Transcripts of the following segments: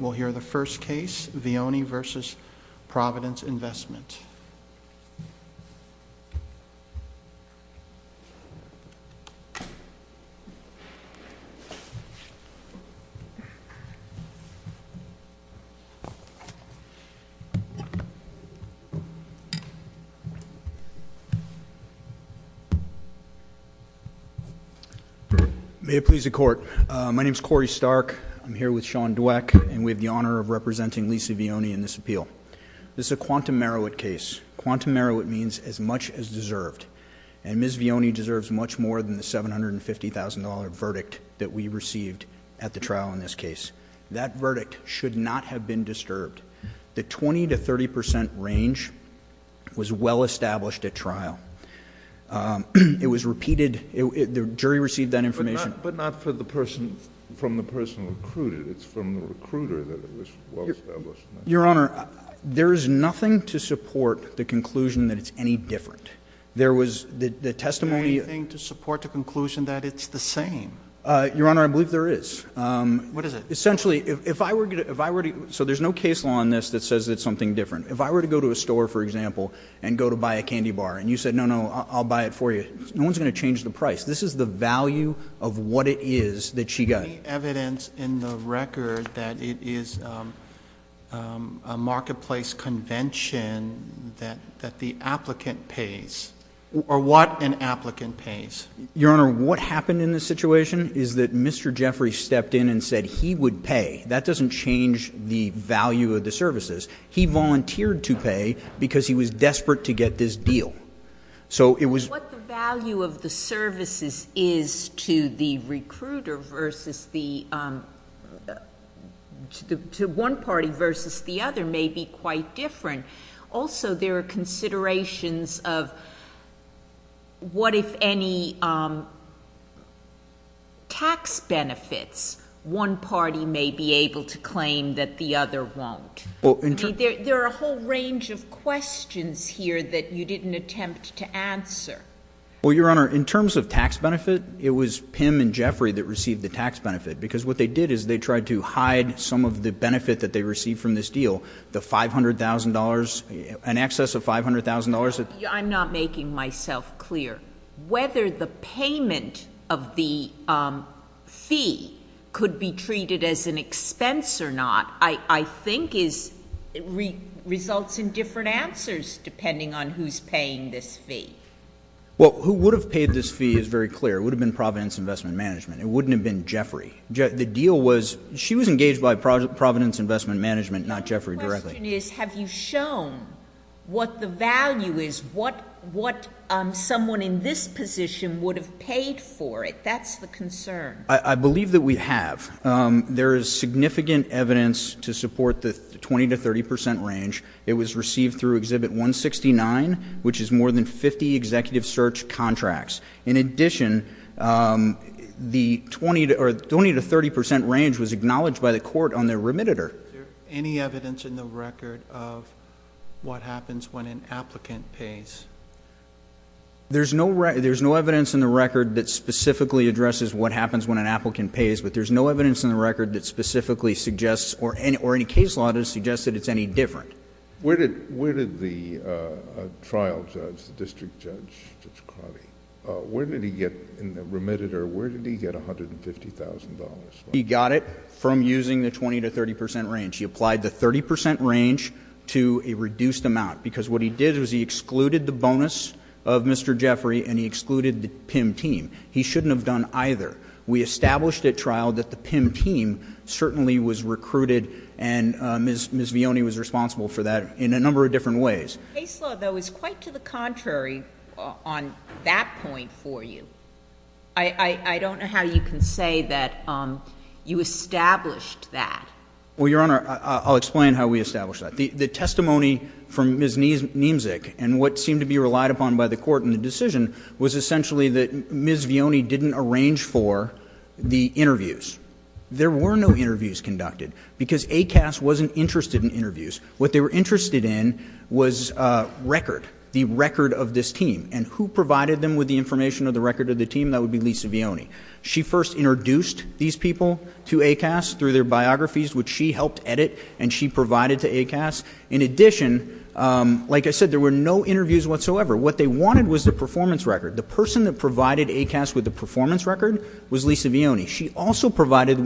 We'll hear the first case, Vioni v. Providence Investment. Please be seated. May it please the Court. My name is Corey Stark. I'm here with Sean Dweck, and we have the honor of representing Lisa Vioni in this appeal. This is a quantum Marowit case. Quantum Marowit means as much as deserved. And Ms. Vioni deserves much more than the $750,000 verdict that we received at the trial in this case. That verdict should not have been disturbed. The 20 to 30 percent range was well established at trial. It was repeated. The jury received that information. But not from the person who recruited it. It's from the recruiter that it was well established. Your Honor, there is nothing to support the conclusion that it's any different. There was the testimony. Is there anything to support the conclusion that it's the same? Your Honor, I believe there is. What is it? Essentially, if I were to go to a store, for example, and go to buy a candy bar, and you said, no, no, I'll buy it for you, no one's going to change the price. This is the value of what it is that she got. Is there any evidence in the record that it is a marketplace convention that the applicant pays? Or what an applicant pays? Your Honor, what happened in this situation is that Mr. Jeffrey stepped in and said he would pay. That doesn't change the value of the services. He volunteered to pay because he was desperate to get this deal. What the value of the services is to the recruiter versus the one party versus the other may be quite different. Also, there are considerations of what if any tax benefits one party may be able to claim that the other won't. There are a whole range of questions here that you didn't attempt to answer. Well, Your Honor, in terms of tax benefit, it was Pim and Jeffrey that received the tax benefit. Because what they did is they tried to hide some of the benefit that they received from this deal, the $500,000, an excess of $500,000. I'm not making myself clear. Whether the payment of the fee could be treated as an expense or not, I think results in different answers depending on who's paying this fee. Well, who would have paid this fee is very clear. It would have been Providence Investment Management. It wouldn't have been Jeffrey. The deal was she was engaged by Providence Investment Management, not Jeffrey directly. My question is, have you shown what the value is, what someone in this position would have paid for it? That's the concern. I believe that we have. There is significant evidence to support the 20 to 30 percent range. It was received through Exhibit 169, which is more than 50 executive search contracts. In addition, the 20 to 30 percent range was acknowledged by the court on their remittitor. Is there any evidence in the record of what happens when an applicant pays? There's no evidence in the record that specifically addresses what happens when an applicant pays, but there's no evidence in the record that specifically suggests or any case law that suggests that it's any different. Where did the trial judge, the district judge, Judge Carvey, where did he get in the remittitor, where did he get $150,000? He got it from using the 20 to 30 percent range. He applied the 30 percent range to a reduced amount, because what he did was he excluded the bonus of Mr. Jeffrey and he excluded the PIMM team. He shouldn't have done either. We established at trial that the PIMM team certainly was recruited, and Ms. Vioni was responsible for that in a number of different ways. The case law, though, is quite to the contrary on that point for you. I don't know how you can say that you established that. Well, Your Honor, I'll explain how we established that. The testimony from Ms. Niemczyk and what seemed to be relied upon by the court in the decision was essentially that Ms. Vioni didn't arrange for the interviews. There were no interviews conducted because ACAS wasn't interested in interviews. What they were interested in was record, the record of this team, and who provided them with the information of the record of the team, that would be Lisa Vioni. She first introduced these people to ACAS through their biographies, which she helped edit, and she provided to ACAS. In addition, like I said, there were no interviews whatsoever. What they wanted was the performance record. The person that provided ACAS with the performance record was Lisa Vioni. She also provided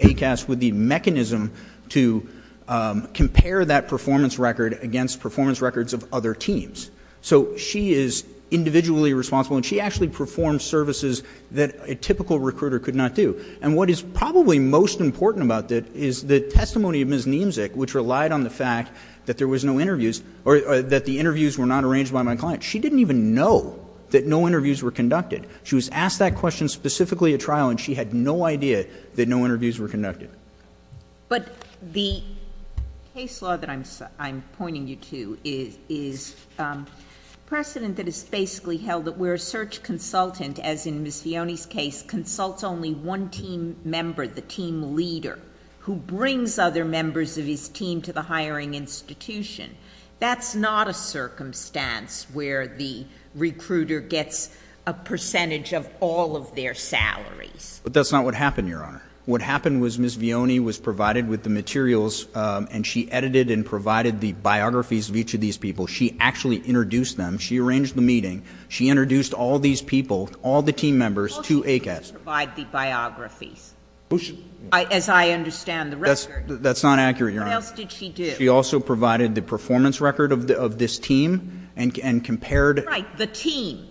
ACAS with the mechanism to compare that performance record against performance records of other teams. So she is individually responsible, and she actually performed services that a typical recruiter could not do. And what is probably most important about that is the testimony of Ms. Niemczyk, which relied on the fact that there was no interviews or that the interviews were not arranged by my client. She didn't even know that no interviews were conducted. She was asked that question specifically at trial, and she had no idea that no interviews were conducted. But the case law that I'm pointing you to is precedent that is basically held that we're a search consultant, as in Ms. Vioni's case, consults only one team member, the team leader, who brings other members of his team to the hiring institution. That's not a circumstance where the recruiter gets a percentage of all of their salaries. But that's not what happened, Your Honor. What happened was Ms. Vioni was provided with the materials, and she edited and provided the biographies of each of these people. She actually introduced them. She arranged the meeting. She introduced all these people, all the team members, to ACAS. Well, she didn't provide the biographies. As I understand the record. That's not accurate, Your Honor. What else did she do? She also provided the performance record of this team and compared. Right, the team.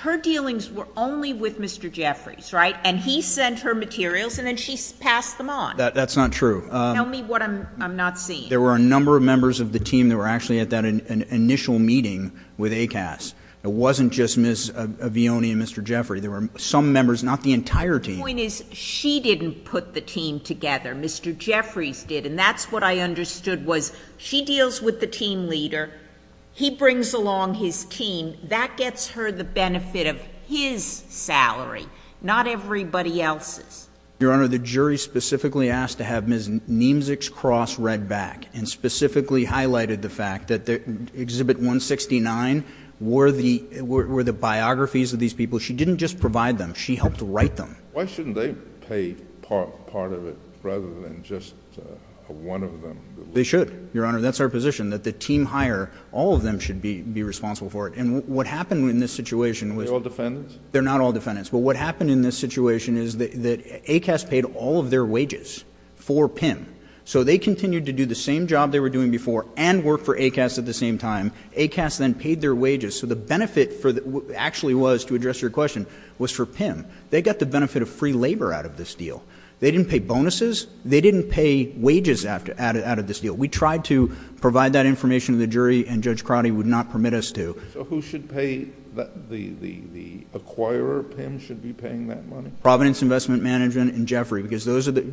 Her dealings were only with Mr. Jeffries, right? And he sent her materials, and then she passed them on. That's not true. Tell me what I'm not seeing. There were a number of members of the team that were actually at that initial meeting with ACAS. It wasn't just Ms. Vioni and Mr. Jeffries. There were some members, not the entire team. The point is she didn't put the team together. Mr. Jeffries did, and that's what I understood was she deals with the team leader. He brings along his team. That gets her the benefit of his salary. Not everybody else's. Your Honor, the jury specifically asked to have Ms. Niemzik's cross read back and specifically highlighted the fact that Exhibit 169 were the biographies of these people. She didn't just provide them. She helped write them. Why shouldn't they pay part of it rather than just one of them? They should, Your Honor. That's our position, that the team hire, all of them should be responsible for it. And what happened in this situation was they're not all defendants. But what happened in this situation is that ACAS paid all of their wages for PIM. So they continued to do the same job they were doing before and work for ACAS at the same time. ACAS then paid their wages. So the benefit actually was, to address your question, was for PIM. They got the benefit of free labor out of this deal. They didn't pay bonuses. They didn't pay wages out of this deal. We tried to provide that information to the jury, and Judge Crotty would not permit us to. So who should pay? The acquirer of PIM should be paying that money? Providence Investment Management and Jeffrey. Because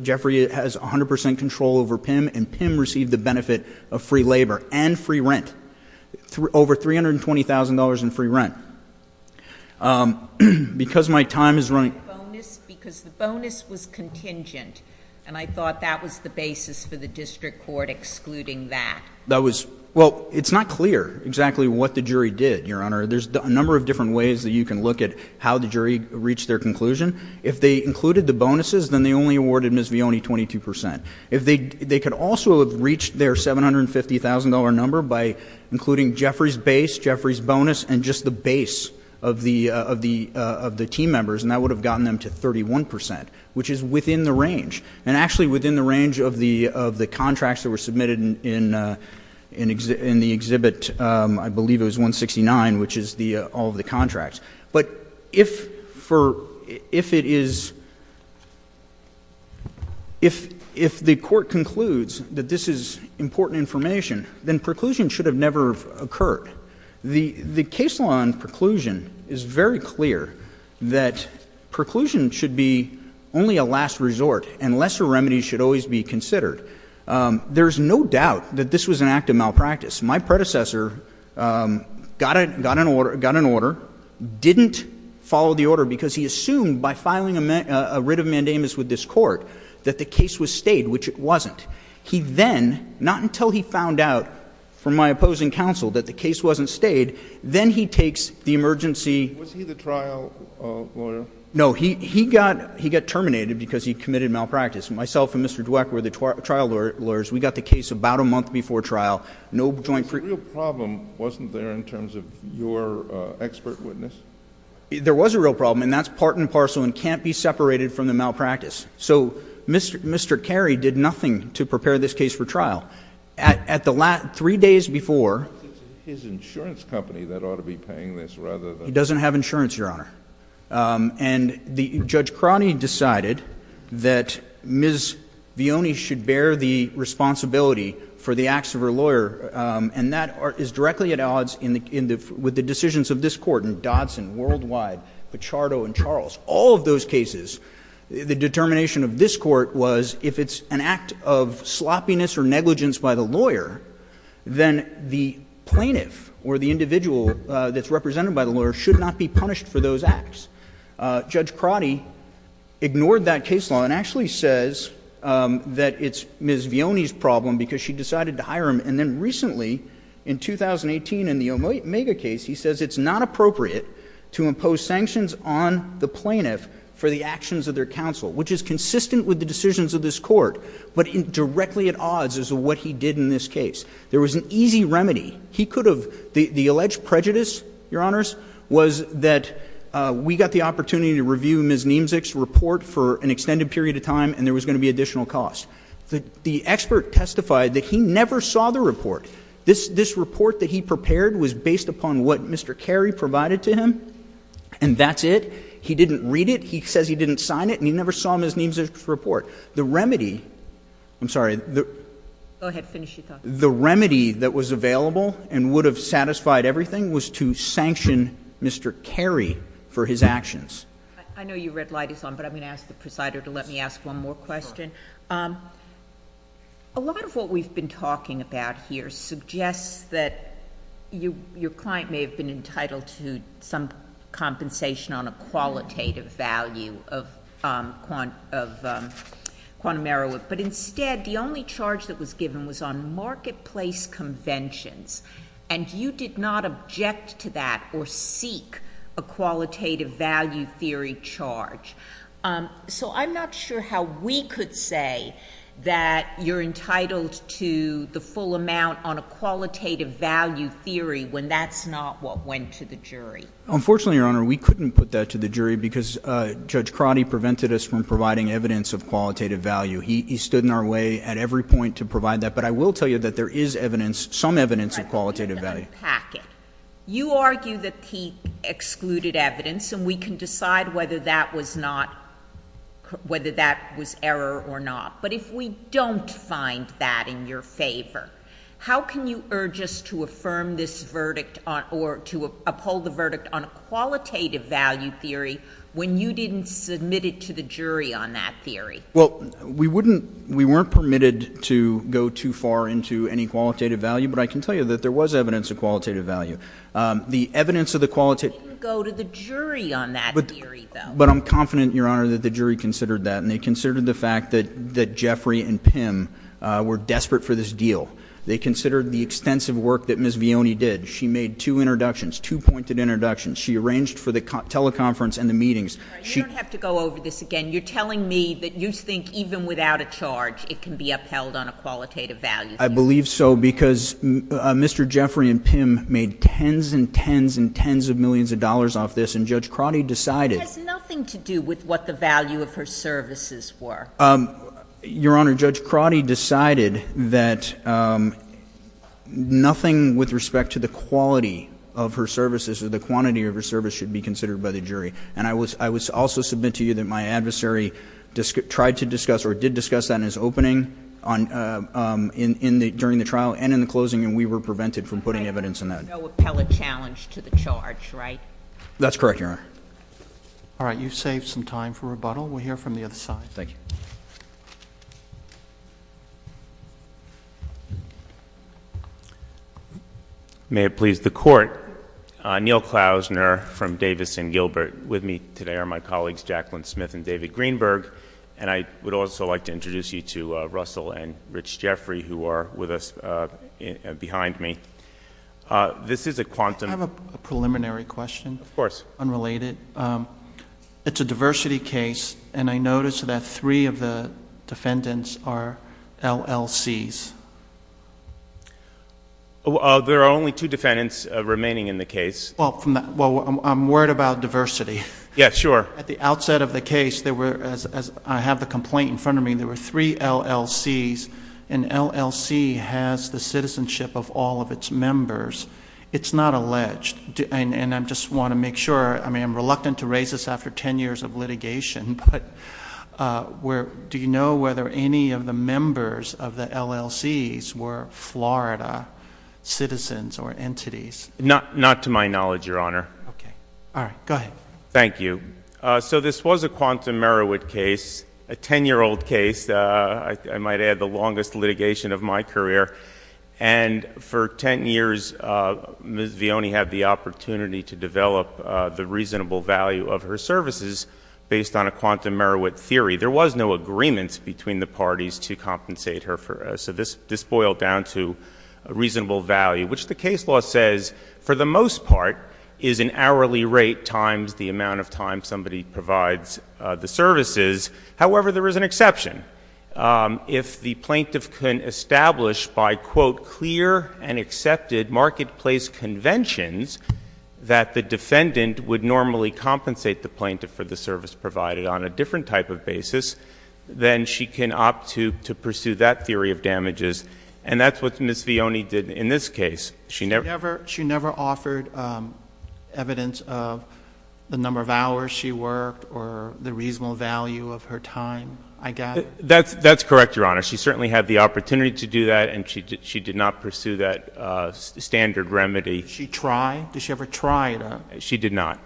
Jeffrey has 100 percent control over PIM, and PIM received the benefit of free labor and free rent. Over $320,000 in free rent. Because my time is running. Because the bonus was contingent, and I thought that was the basis for the district court excluding that. Well, it's not clear exactly what the jury did, Your Honor. There's a number of different ways that you can look at how the jury reached their conclusion. If they included the bonuses, then they only awarded Ms. Vione 22 percent. They could also have reached their $750,000 number by including Jeffrey's base, Jeffrey's bonus, and just the base of the team members, and that would have gotten them to 31 percent, which is within the range. And actually within the range of the contracts that were submitted in the exhibit. I believe it was 169, which is all of the contracts. But if the court concludes that this is important information, then preclusion should have never occurred. The case law in preclusion is very clear that preclusion should be only a last resort, and lesser remedies should always be considered. There's no doubt that this was an act of malpractice. My predecessor got an order, didn't follow the order because he assumed by filing a writ of mandamus with this court that the case was stayed, which it wasn't. He then, not until he found out from my opposing counsel that the case wasn't stayed, then he takes the emergency. Was he the trial lawyer? No. He got terminated because he committed malpractice. Myself and Mr. Dweck were the trial lawyers. We got the case about a month before trial. There was a real problem, wasn't there, in terms of your expert witness? There was a real problem, and that's part and parcel and can't be separated from the malpractice. So Mr. Carey did nothing to prepare this case for trial. Three days before... It's his insurance company that ought to be paying this rather than... He doesn't have insurance, Your Honor. And Judge Cronin decided that Ms. Vioni should bear the responsibility for the acts of her lawyer, and that is directly at odds with the decisions of this court in Dodson, Worldwide, Pichardo, and Charles. All of those cases, the determination of this court was if it's an act of sloppiness or negligence by the lawyer, then the plaintiff or the individual that's represented by the lawyer should not be punished for those acts. Judge Cronin ignored that case law and actually says that it's Ms. Vioni's problem because she decided to hire him, and then recently, in 2018, in the Omega case, he says it's not appropriate to impose sanctions on the plaintiff for the actions of their counsel, which is consistent with the decisions of this court, but directly at odds as to what he did in this case. There was an easy remedy. He could have... The alleged prejudice, Your Honors, was that we got the opportunity to review Ms. Niemzik's report for an extended period of time, and there was going to be additional cost. The expert testified that he never saw the report. This report that he prepared was based upon what Mr. Carey provided to him, and that's it. He didn't read it. He says he didn't sign it, and he never saw Ms. Niemzik's report. The remedy... I'm sorry. Go ahead. Finish your thought. The remedy that was available and would have satisfied everything was to sanction Mr. Carey for his actions. I know your red light is on, but I'm going to ask the presider to let me ask one more question. Sure. A lot of what we've been talking about here suggests that your client may have been entitled to some compensation on a qualitative value of quantum error, but instead the only charge that was given was on marketplace conventions, and you did not object to that or seek a qualitative value theory charge. So I'm not sure how we could say that you're entitled to the full amount on a qualitative value theory when that's not what went to the jury. Unfortunately, Your Honor, we couldn't put that to the jury because Judge Crotty prevented us from providing evidence of qualitative value. He stood in our way at every point to provide that, but I will tell you that there is evidence, some evidence of qualitative value. You argue that he excluded evidence, and we can decide whether that was error or not, but if we don't find that in your favor, how can you urge us to affirm this verdict or to uphold the verdict on a qualitative value theory when you didn't submit it to the jury on that theory? Well, we wouldn't, we weren't permitted to go too far into any qualitative value, but I can tell you that there was evidence of qualitative value. The evidence of the qualitative... You didn't go to the jury on that theory, though. But I'm confident, Your Honor, that the jury considered that, and they considered the fact that Jeffrey and Pim were desperate for this deal. They considered the extensive work that Ms. Vioni did. She made two introductions, two-pointed introductions. She arranged for the teleconference and the meetings. You don't have to go over this again. You're telling me that you think even without a charge it can be upheld on a qualitative value theory. I believe so because Mr. Jeffrey and Pim made tens and tens and tens of millions of dollars off this, and Judge Crotty decided... It has nothing to do with what the value of her services were. Your Honor, Judge Crotty decided that nothing with respect to the quality of her services or the quantity of her service should be considered by the jury, and I would also submit to you that my adversary tried to discuss or did discuss that in his opening during the trial and in the closing, and we were prevented from putting evidence in that. No appellate challenge to the charge, right? That's correct, Your Honor. All right. You've saved some time for rebuttal. We'll hear from the other side. Thank you. May it please the Court. Neil Klausner from Davis and Gilbert with me today are my colleagues Jacqueline Smith and David Greenberg, and I would also like to introduce you to Russell and Rich Jeffrey who are with us behind me. This is a quantum... Can I have a preliminary question? Of course. Unrelated. It's a diversity case, and I notice that three of the defendants are LLCs. There are only two defendants remaining in the case. Well, I'm worried about diversity. Yeah, sure. At the outset of the case, as I have the complaint in front of me, there were three LLCs, and LLC has the citizenship of all of its members. It's not alleged, and I just want to make sure. I mean, I'm reluctant to raise this after 10 years of litigation, but do you know whether any of the members of the LLCs were Florida citizens or entities? Not to my knowledge, Your Honor. Okay. All right. Go ahead. Thank you. So this was a quantum Meriwit case, a 10-year-old case. I might add the longest litigation of my career, and for 10 years, Ms. Vioni had the opportunity to develop the reasonable value of her services based on a quantum Meriwit theory. There was no agreement between the parties to compensate her. So this boiled down to reasonable value, which the case law says, for the most part, is an hourly rate times the amount of time somebody provides the services. However, there is an exception. If the plaintiff can establish by, quote, clear and accepted marketplace conventions that the defendant would normally compensate the plaintiff for the service provided on a different type of basis, then she can opt to pursue that theory of damages, and that's what Ms. Vioni did in this case. She never offered evidence of the number of hours she worked or the reasonable value of her time. I got it. That's correct, Your Honor. She certainly had the opportunity to do that, and she did not pursue that standard remedy. Did she try? Did she ever try to? She did not.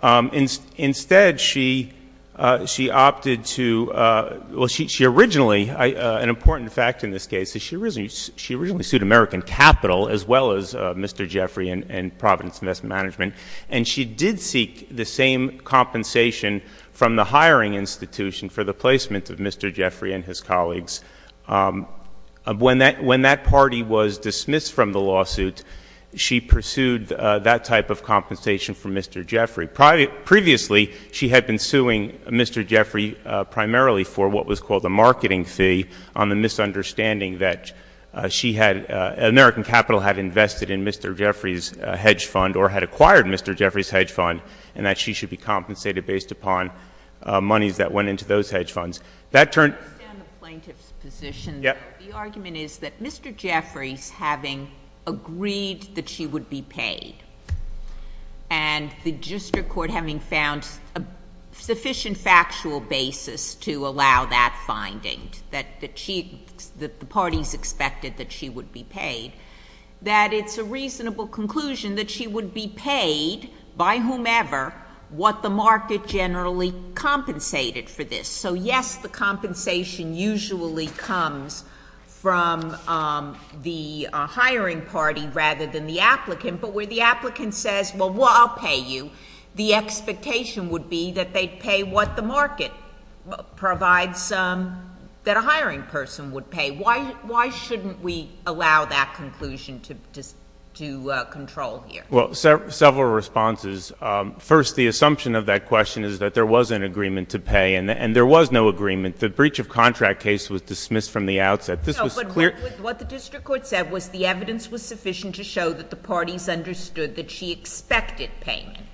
Okay. Instead, she opted to ‑‑ well, she originally, an important fact in this case, is she originally sued American Capital as well as Mr. Jeffrey and Providence Investment Management, and she did seek the same compensation from the hiring institution for the placement of Mr. Jeffrey and his colleagues. When that party was dismissed from the lawsuit, she pursued that type of compensation from Mr. Jeffrey. Previously, she had been suing Mr. Jeffrey primarily for what was called a marketing fee on the misunderstanding that she had ‑‑ American Capital had invested in Mr. Jeffrey's hedge fund or had acquired Mr. Jeffrey's hedge fund and that she should be compensated based upon monies that went into those hedge funds. That turned ‑‑ I understand the plaintiff's position. Yes. The argument is that Mr. Jeffrey's having agreed that she would be paid and the district court having found sufficient factual basis to allow that finding, that the parties expected that she would be paid, that it's a reasonable conclusion that she would be paid by whomever what the market generally compensated for this. So, yes, the compensation usually comes from the hiring party rather than the applicant, but where the applicant says, well, I'll pay you, the expectation would be that they'd pay what the market provides that a hiring person would pay. Why shouldn't we allow that conclusion to control here? Well, several responses. First, the assumption of that question is that there was an agreement to pay and there was no agreement. The breach of contract case was dismissed from the outset. No, but what the district court said was the evidence was sufficient to show that the parties understood that she expected payment.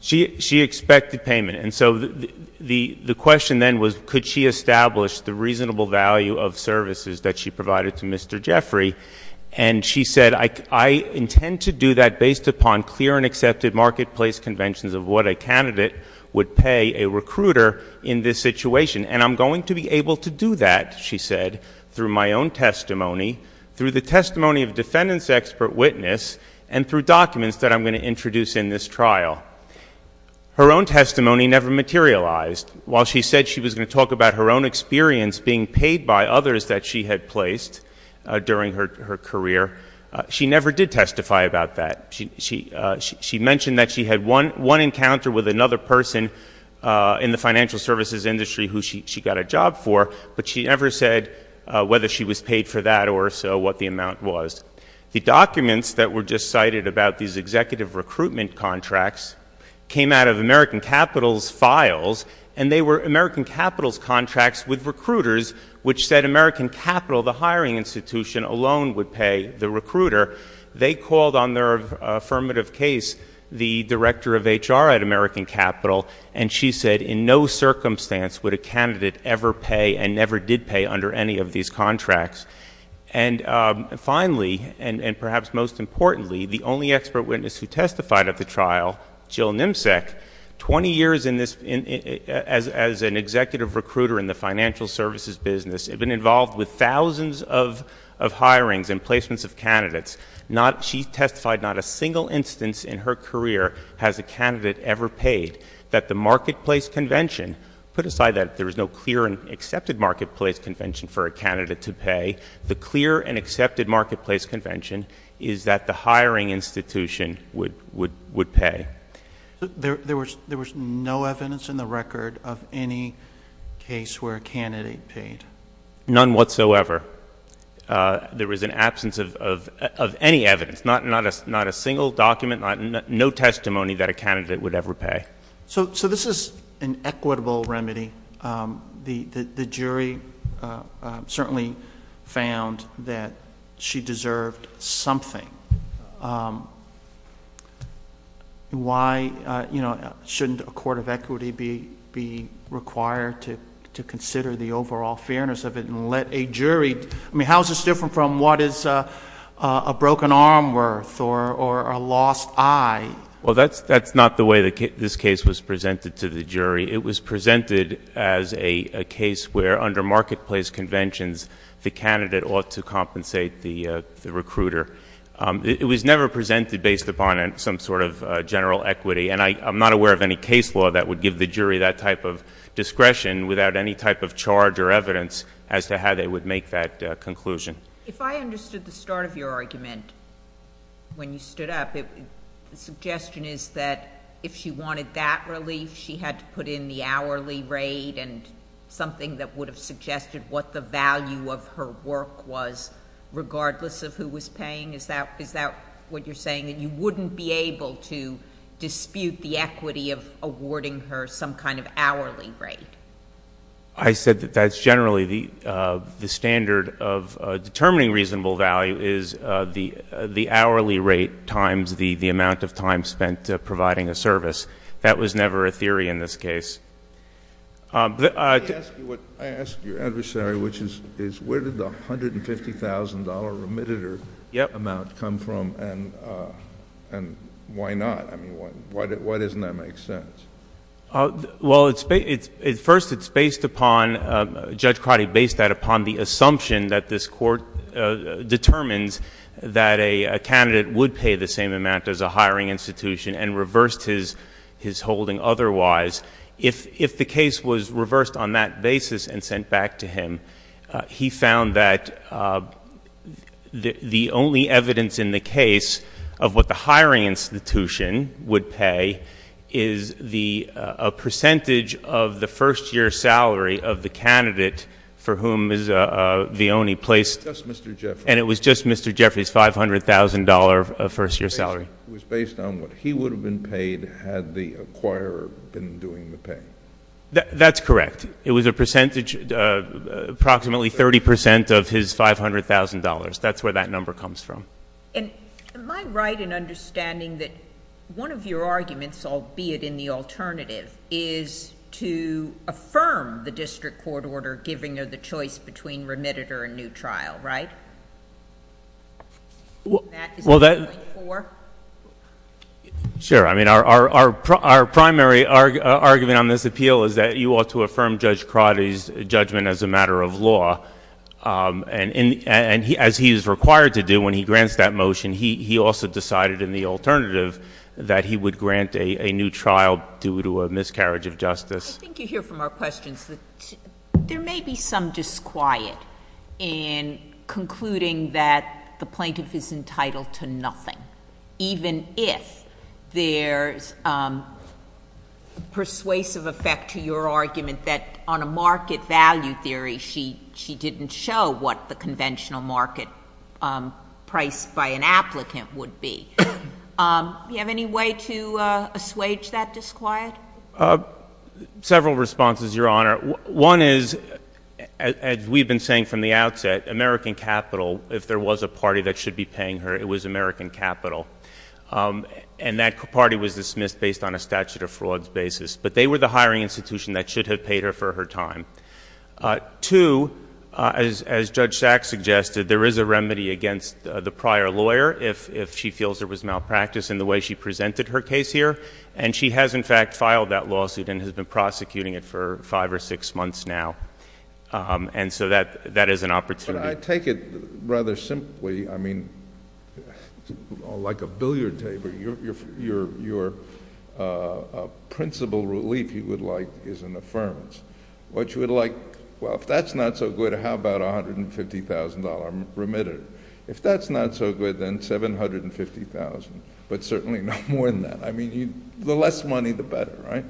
She expected payment. And so the question then was, could she establish the reasonable value of services that she provided to Mr. Jeffrey? And she said, I intend to do that based upon clear and accepted marketplace conventions of what a candidate would pay a recruiter in this situation, and I'm going to be able to do that, she said. Through my own testimony, through the testimony of defendant's expert witness, and through documents that I'm going to introduce in this trial. Her own testimony never materialized. While she said she was going to talk about her own experience being paid by others that she had placed during her career, she never did testify about that. She mentioned that she had one encounter with another person in the financial services industry who she got a job for, but she never said whether she was paid for that or so what the amount was. The documents that were just cited about these executive recruitment contracts came out of American Capital's files, and they were American Capital's contracts with recruiters, which said American Capital, the hiring institution, alone would pay the recruiter. They called on their affirmative case the director of HR at American Capital, and she said in no circumstance would a candidate ever pay and never did pay under any of these contracts. And finally, and perhaps most importantly, the only expert witness who testified at the trial, Jill Nimsek, 20 years as an executive recruiter in the financial services business, had been involved with thousands of hirings and placements of candidates. She testified not a single instance in her career has a candidate ever paid that the marketplace convention, put aside that there is no clear and accepted marketplace convention for a candidate to pay, the clear and accepted marketplace convention is that the hiring institution would pay. There was no evidence in the record of any case where a candidate paid? None whatsoever. There was an absence of any evidence, not a single document, no testimony that a candidate would ever pay. So this is an equitable remedy. The jury certainly found that she deserved something. Why, you know, shouldn't a court of equity be required to consider the overall fairness of it and let a jury, I mean, how is this different from what is a broken arm worth or a lost eye? Well, that's not the way this case was presented to the jury. It was presented as a case where under marketplace conventions, the candidate ought to compensate the recruiter. It was never presented based upon some sort of general equity, and I'm not aware of any case law that would give the jury that type of discretion without any type of charge or evidence as to how they would make that conclusion. If I understood the start of your argument when you stood up, the suggestion is that if she wanted that relief, she had to put in the hourly rate and something that would have suggested what the value of her work was regardless of who was paying. Is that what you're saying, that you wouldn't be able to dispute the equity of awarding her some kind of hourly rate? I said that that's generally the standard of determining reasonable value is the hourly rate times the amount of time spent providing a service. That was never a theory in this case. I asked your adversary, which is where did the $150,000 remitter amount come from and why not? I mean, why doesn't that make sense? Well, first, it's based upon, Judge Crotty based that upon the assumption that this court determines that a candidate would pay the same amount as a hiring institution and reversed his holding otherwise. If the case was reversed on that basis and sent back to him, he found that the only evidence in the case of what the hiring institution would pay is a percentage of the first year salary of the candidate for whom is the only place. Just Mr. Jeffrey. And it was just Mr. Jeffrey's $500,000 first year salary. It was based on what he would have been paid had the acquirer been doing the pay. That's correct. It was approximately 30% of his $500,000. That's where that number comes from. Am I right in understanding that one of your arguments, albeit in the alternative, is to affirm the district court order giving her the choice between remitter and new trial, right? Is that what you're appealing for? Sure. I mean, our primary argument on this appeal is that you ought to affirm Judge Crotty's judgment as a matter of law. And as he is required to do when he grants that motion, he also decided in the alternative that he would grant a new trial due to a miscarriage of justice. I think you hear from our questions that there may be some disquiet in concluding that the plaintiff is entitled to nothing, even if there's persuasive effect to your argument that on a market value theory, she didn't show what the conventional market price by an applicant would be. Do you have any way to assuage that disquiet? Several responses, Your Honor. One is, as we've been saying from the outset, American capital, if there was a party that should be paying her, it was American capital. And that party was dismissed based on a statute of frauds basis. But they were the hiring institution that should have paid her for her time. Two, as Judge Sachs suggested, there is a remedy against the prior lawyer if she feels there was malpractice in the way she presented her case here. And she has, in fact, filed that lawsuit and has been prosecuting it for five or six months now. And so that is an opportunity. But I take it rather simply. I mean, like a billiard table, your principal relief you would like is an affirmance. What you would like, well, if that's not so good, how about $150,000 remitted? If that's not so good, then $750,000, but certainly no more than that. I mean, the less money, the better, right?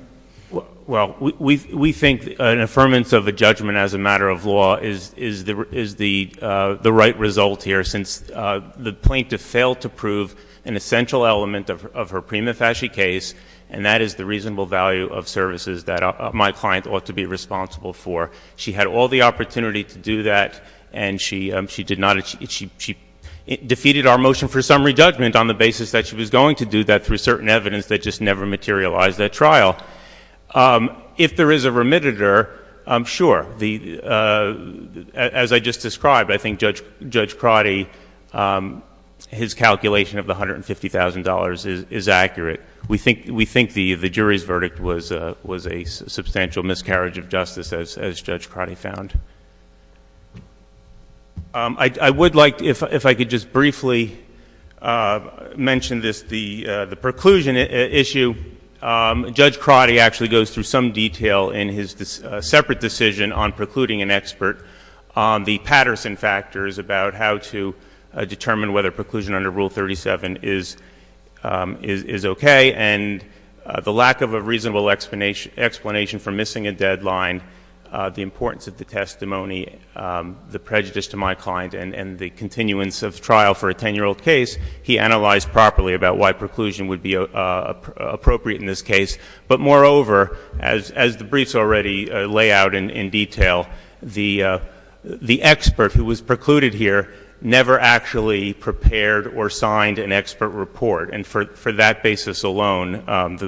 Well, we think an affirmance of a judgment as a matter of law is the right result here since the plaintiff failed to prove an essential element of her prima facie case, and that is the reasonable value of services that my client ought to be responsible for. She had all the opportunity to do that, and she defeated our motion for summary judgment on the basis that she was going to do that through certain evidence that just never materialized at trial. If there is a remitter, sure. As I just described, I think Judge Crotty, his calculation of the $150,000 is accurate. We think the jury's verdict was a substantial miscarriage of justice, as Judge Crotty found. I would like, if I could just briefly mention this, the preclusion issue. Judge Crotty actually goes through some detail in his separate decision on precluding an expert on the Patterson factors about how to determine whether preclusion under Rule 37 is okay and the lack of a reasonable explanation for missing a deadline, the importance of the testimony, the prejudice to my client, and the continuance of trial for a 10-year-old case. He analyzed properly about why preclusion would be appropriate in this case. But moreover, as the briefs already lay out in detail, the expert who was precluded here never actually prepared or signed an expert report, and for that basis alone,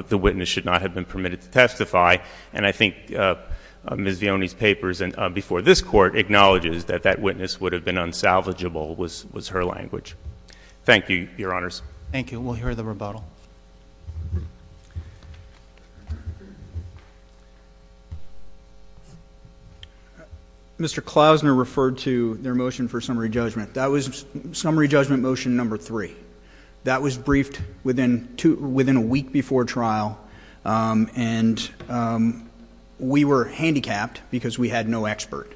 the witness should not have been permitted to testify. And I think Ms. Vioni's papers before this Court acknowledges that that witness would have been unsalvageable was her language. Thank you, Your Honors. Thank you. We'll hear the rebuttal. Mr. Klausner referred to their motion for summary judgment. That was summary judgment motion number three. That was briefed within a week before trial, and we were handicapped because we had no expert.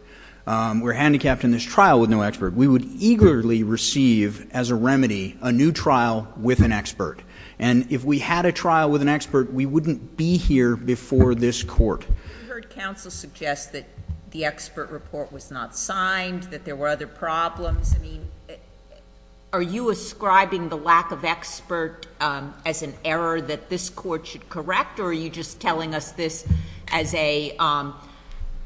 We're handicapped in this trial with no expert. We would eagerly receive as a remedy a new trial with an expert, and if we had a trial with an expert, we wouldn't be here before this Court. We heard counsel suggest that the expert report was not signed, that there were other problems. I mean, are you ascribing the lack of expert as an error that this Court should correct, or are you just telling us this as a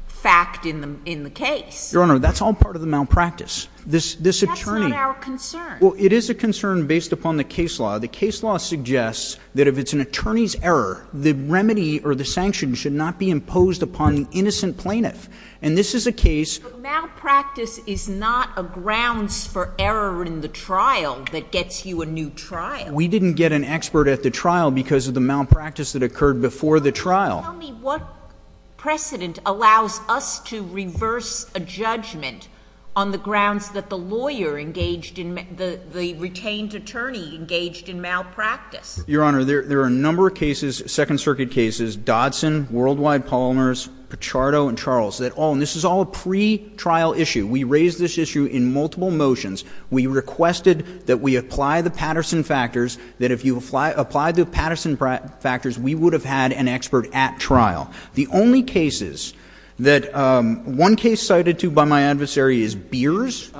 fact in the case? Your Honor, that's all part of the malpractice. This attorney— That's not our concern. Well, it is a concern based upon the case law. The case law suggests that if it's an attorney's error, the remedy or the sanction should not be imposed upon an innocent plaintiff, and this is a case— There are grounds for error in the trial that gets you a new trial. We didn't get an expert at the trial because of the malpractice that occurred before the trial. Tell me what precedent allows us to reverse a judgment on the grounds that the lawyer engaged in—the retained attorney engaged in malpractice. Your Honor, there are a number of cases, Second Circuit cases, Dodson, Worldwide, Polliners, Pichardo, and Charles, that all— and this is all a pretrial issue. We raised this issue in multiple motions. We requested that we apply the Patterson factors, that if you apply the Patterson factors, we would have had an expert at trial. The only cases that—one case cited, too, by my adversary is Beers.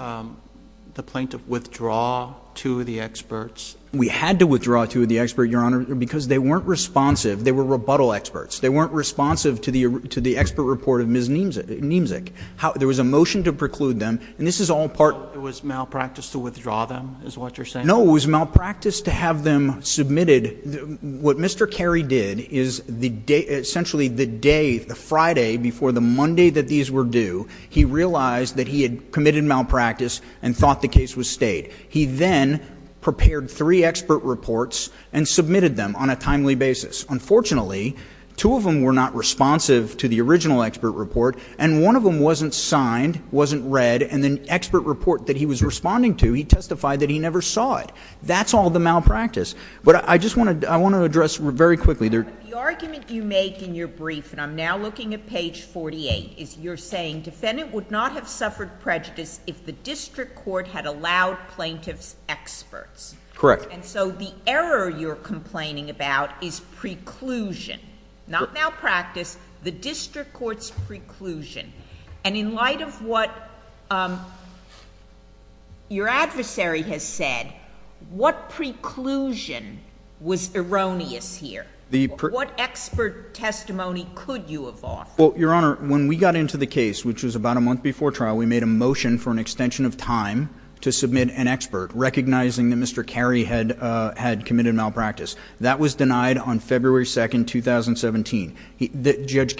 The plaintiff withdraw two of the experts? We had to withdraw two of the experts, Your Honor, because they weren't responsive. They were rebuttal experts. They weren't responsive to the expert report of Ms. Niemczyk. There was a motion to preclude them, and this is all part— It was malpractice to withdraw them, is what you're saying? No, it was malpractice to have them submitted. What Mr. Carey did is the day—essentially the day, the Friday before the Monday that these were due, he realized that he had committed malpractice and thought the case was stayed. He then prepared three expert reports and submitted them on a timely basis. Unfortunately, two of them were not responsive to the original expert report, and one of them wasn't signed, wasn't read, and the expert report that he was responding to, he testified that he never saw it. That's all the malpractice. But I just want to address very quickly— But the argument you make in your brief, and I'm now looking at page 48, is you're saying defendant would not have suffered prejudice if the district court had allowed plaintiff's experts. Correct. And so the error you're complaining about is preclusion, not malpractice, the district court's preclusion. And in light of what your adversary has said, what preclusion was erroneous here? What expert testimony could you have offered? Well, Your Honor, when we got into the case, which was about a month before trial, we made a motion for an extension of time to submit an expert recognizing that Mr. Cary had committed malpractice. That was denied on February 2, 2017.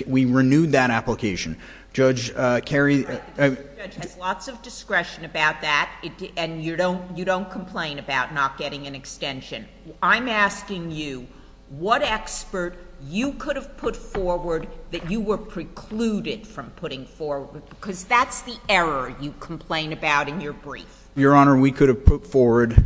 We renewed that application. Judge Cary— The judge has lots of discretion about that, and you don't complain about not getting an extension. I'm asking you what expert you could have put forward that you were precluded from putting forward because that's the error you complain about in your brief. Your Honor, we could have put forward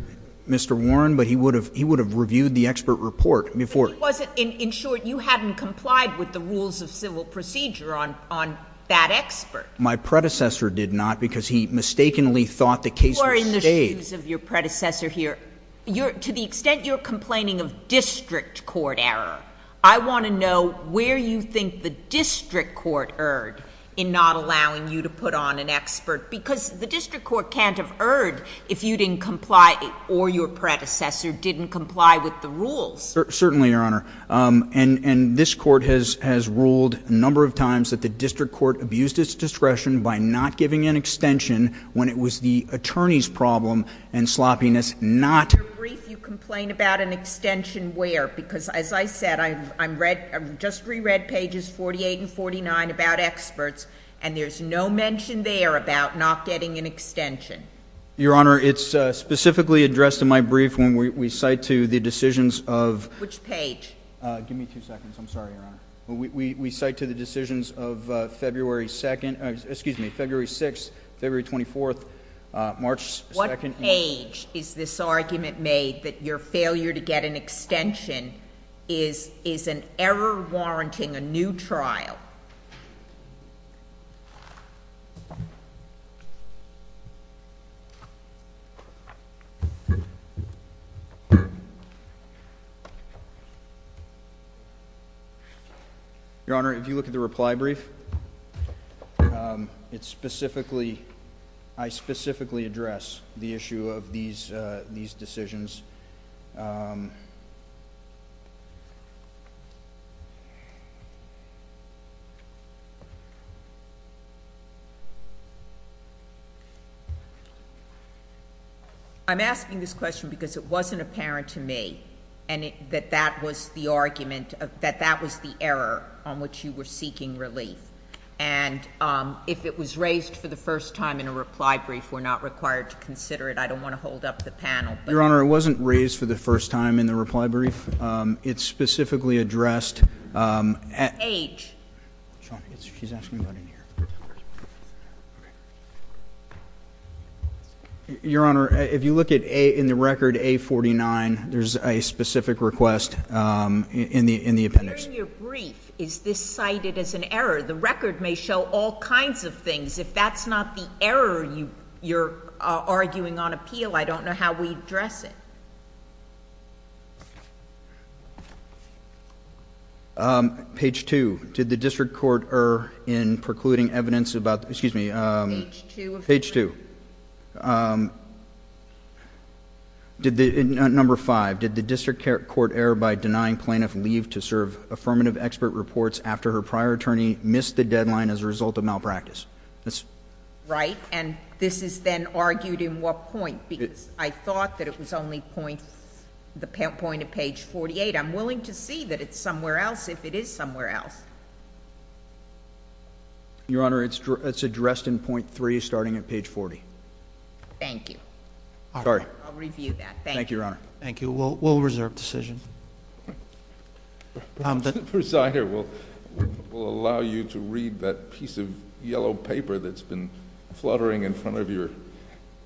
Mr. Warren, but he would have reviewed the expert report before. But he wasn't—in short, you hadn't complied with the rules of civil procedure on that expert. My predecessor did not because he mistakenly thought the case was staged. You are in the shoes of your predecessor here. To the extent you're complaining of district court error, I want to know where you think the district court erred in not allowing you to put on an expert because the district court can't have erred if you didn't comply or your predecessor didn't comply with the rules. Certainly, Your Honor. And this court has ruled a number of times that the district court abused its discretion by not giving an extension when it was the attorney's problem and sloppiness not— In your brief, you complain about an extension where? Because as I said, I just reread pages 48 and 49 about experts, and there's no mention there about not getting an extension. Your Honor, it's specifically addressed in my brief when we cite to the decisions of— Which page? Give me two seconds. I'm sorry, Your Honor. We cite to the decisions of February 6th, February 24th, March 2nd— Which page is this argument made that your failure to get an extension is an error warranting a new trial? Your Honor, if you look at the reply brief, it's specifically—I specifically address the issue of these decisions. I'm asking this question because it wasn't apparent to me that that was the argument—that that was the error on which you were seeking relief. And if it was raised for the first time in a reply brief, we're not required to consider it. I don't want to hold up the panel, but— Your Honor, it wasn't raised for the first time in the reply brief. It's specifically addressed at— Which page? She's asking about in here. Your Honor, if you look in the record A49, there's a specific request in the appendix. During your brief, is this cited as an error? The record may show all kinds of things. If that's not the error you're arguing on appeal, I don't know how we address it. Page 2. Did the district court err in precluding evidence about—excuse me. Page 2. Page 2. Number 5. Did the district court err by denying plaintiff leave to serve affirmative expert reports after her prior attorney missed the deadline as a result of malpractice? Right. And this is then argued in what point? Because I thought that it was only the point of page 48. I'm willing to see that it's somewhere else if it is somewhere else. Your Honor, it's addressed in point 3, starting at page 40. Thank you. Sorry. I'll review that. Thank you. Thank you, Your Honor. Thank you. We'll reserve decision. The presider will allow you to read that piece of yellow paper that's been fluttering in front of your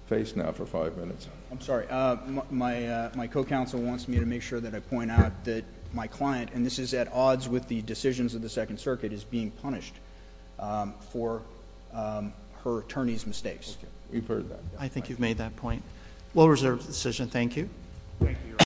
face now for five minutes. I'm sorry. My co-counsel wants me to make sure that I point out that my client, and this is at odds with the decisions of the Second Circuit, is being punished for her attorney's mistakes. We've heard that. I think you've made that point. Thank you. Thank you, Your Honor.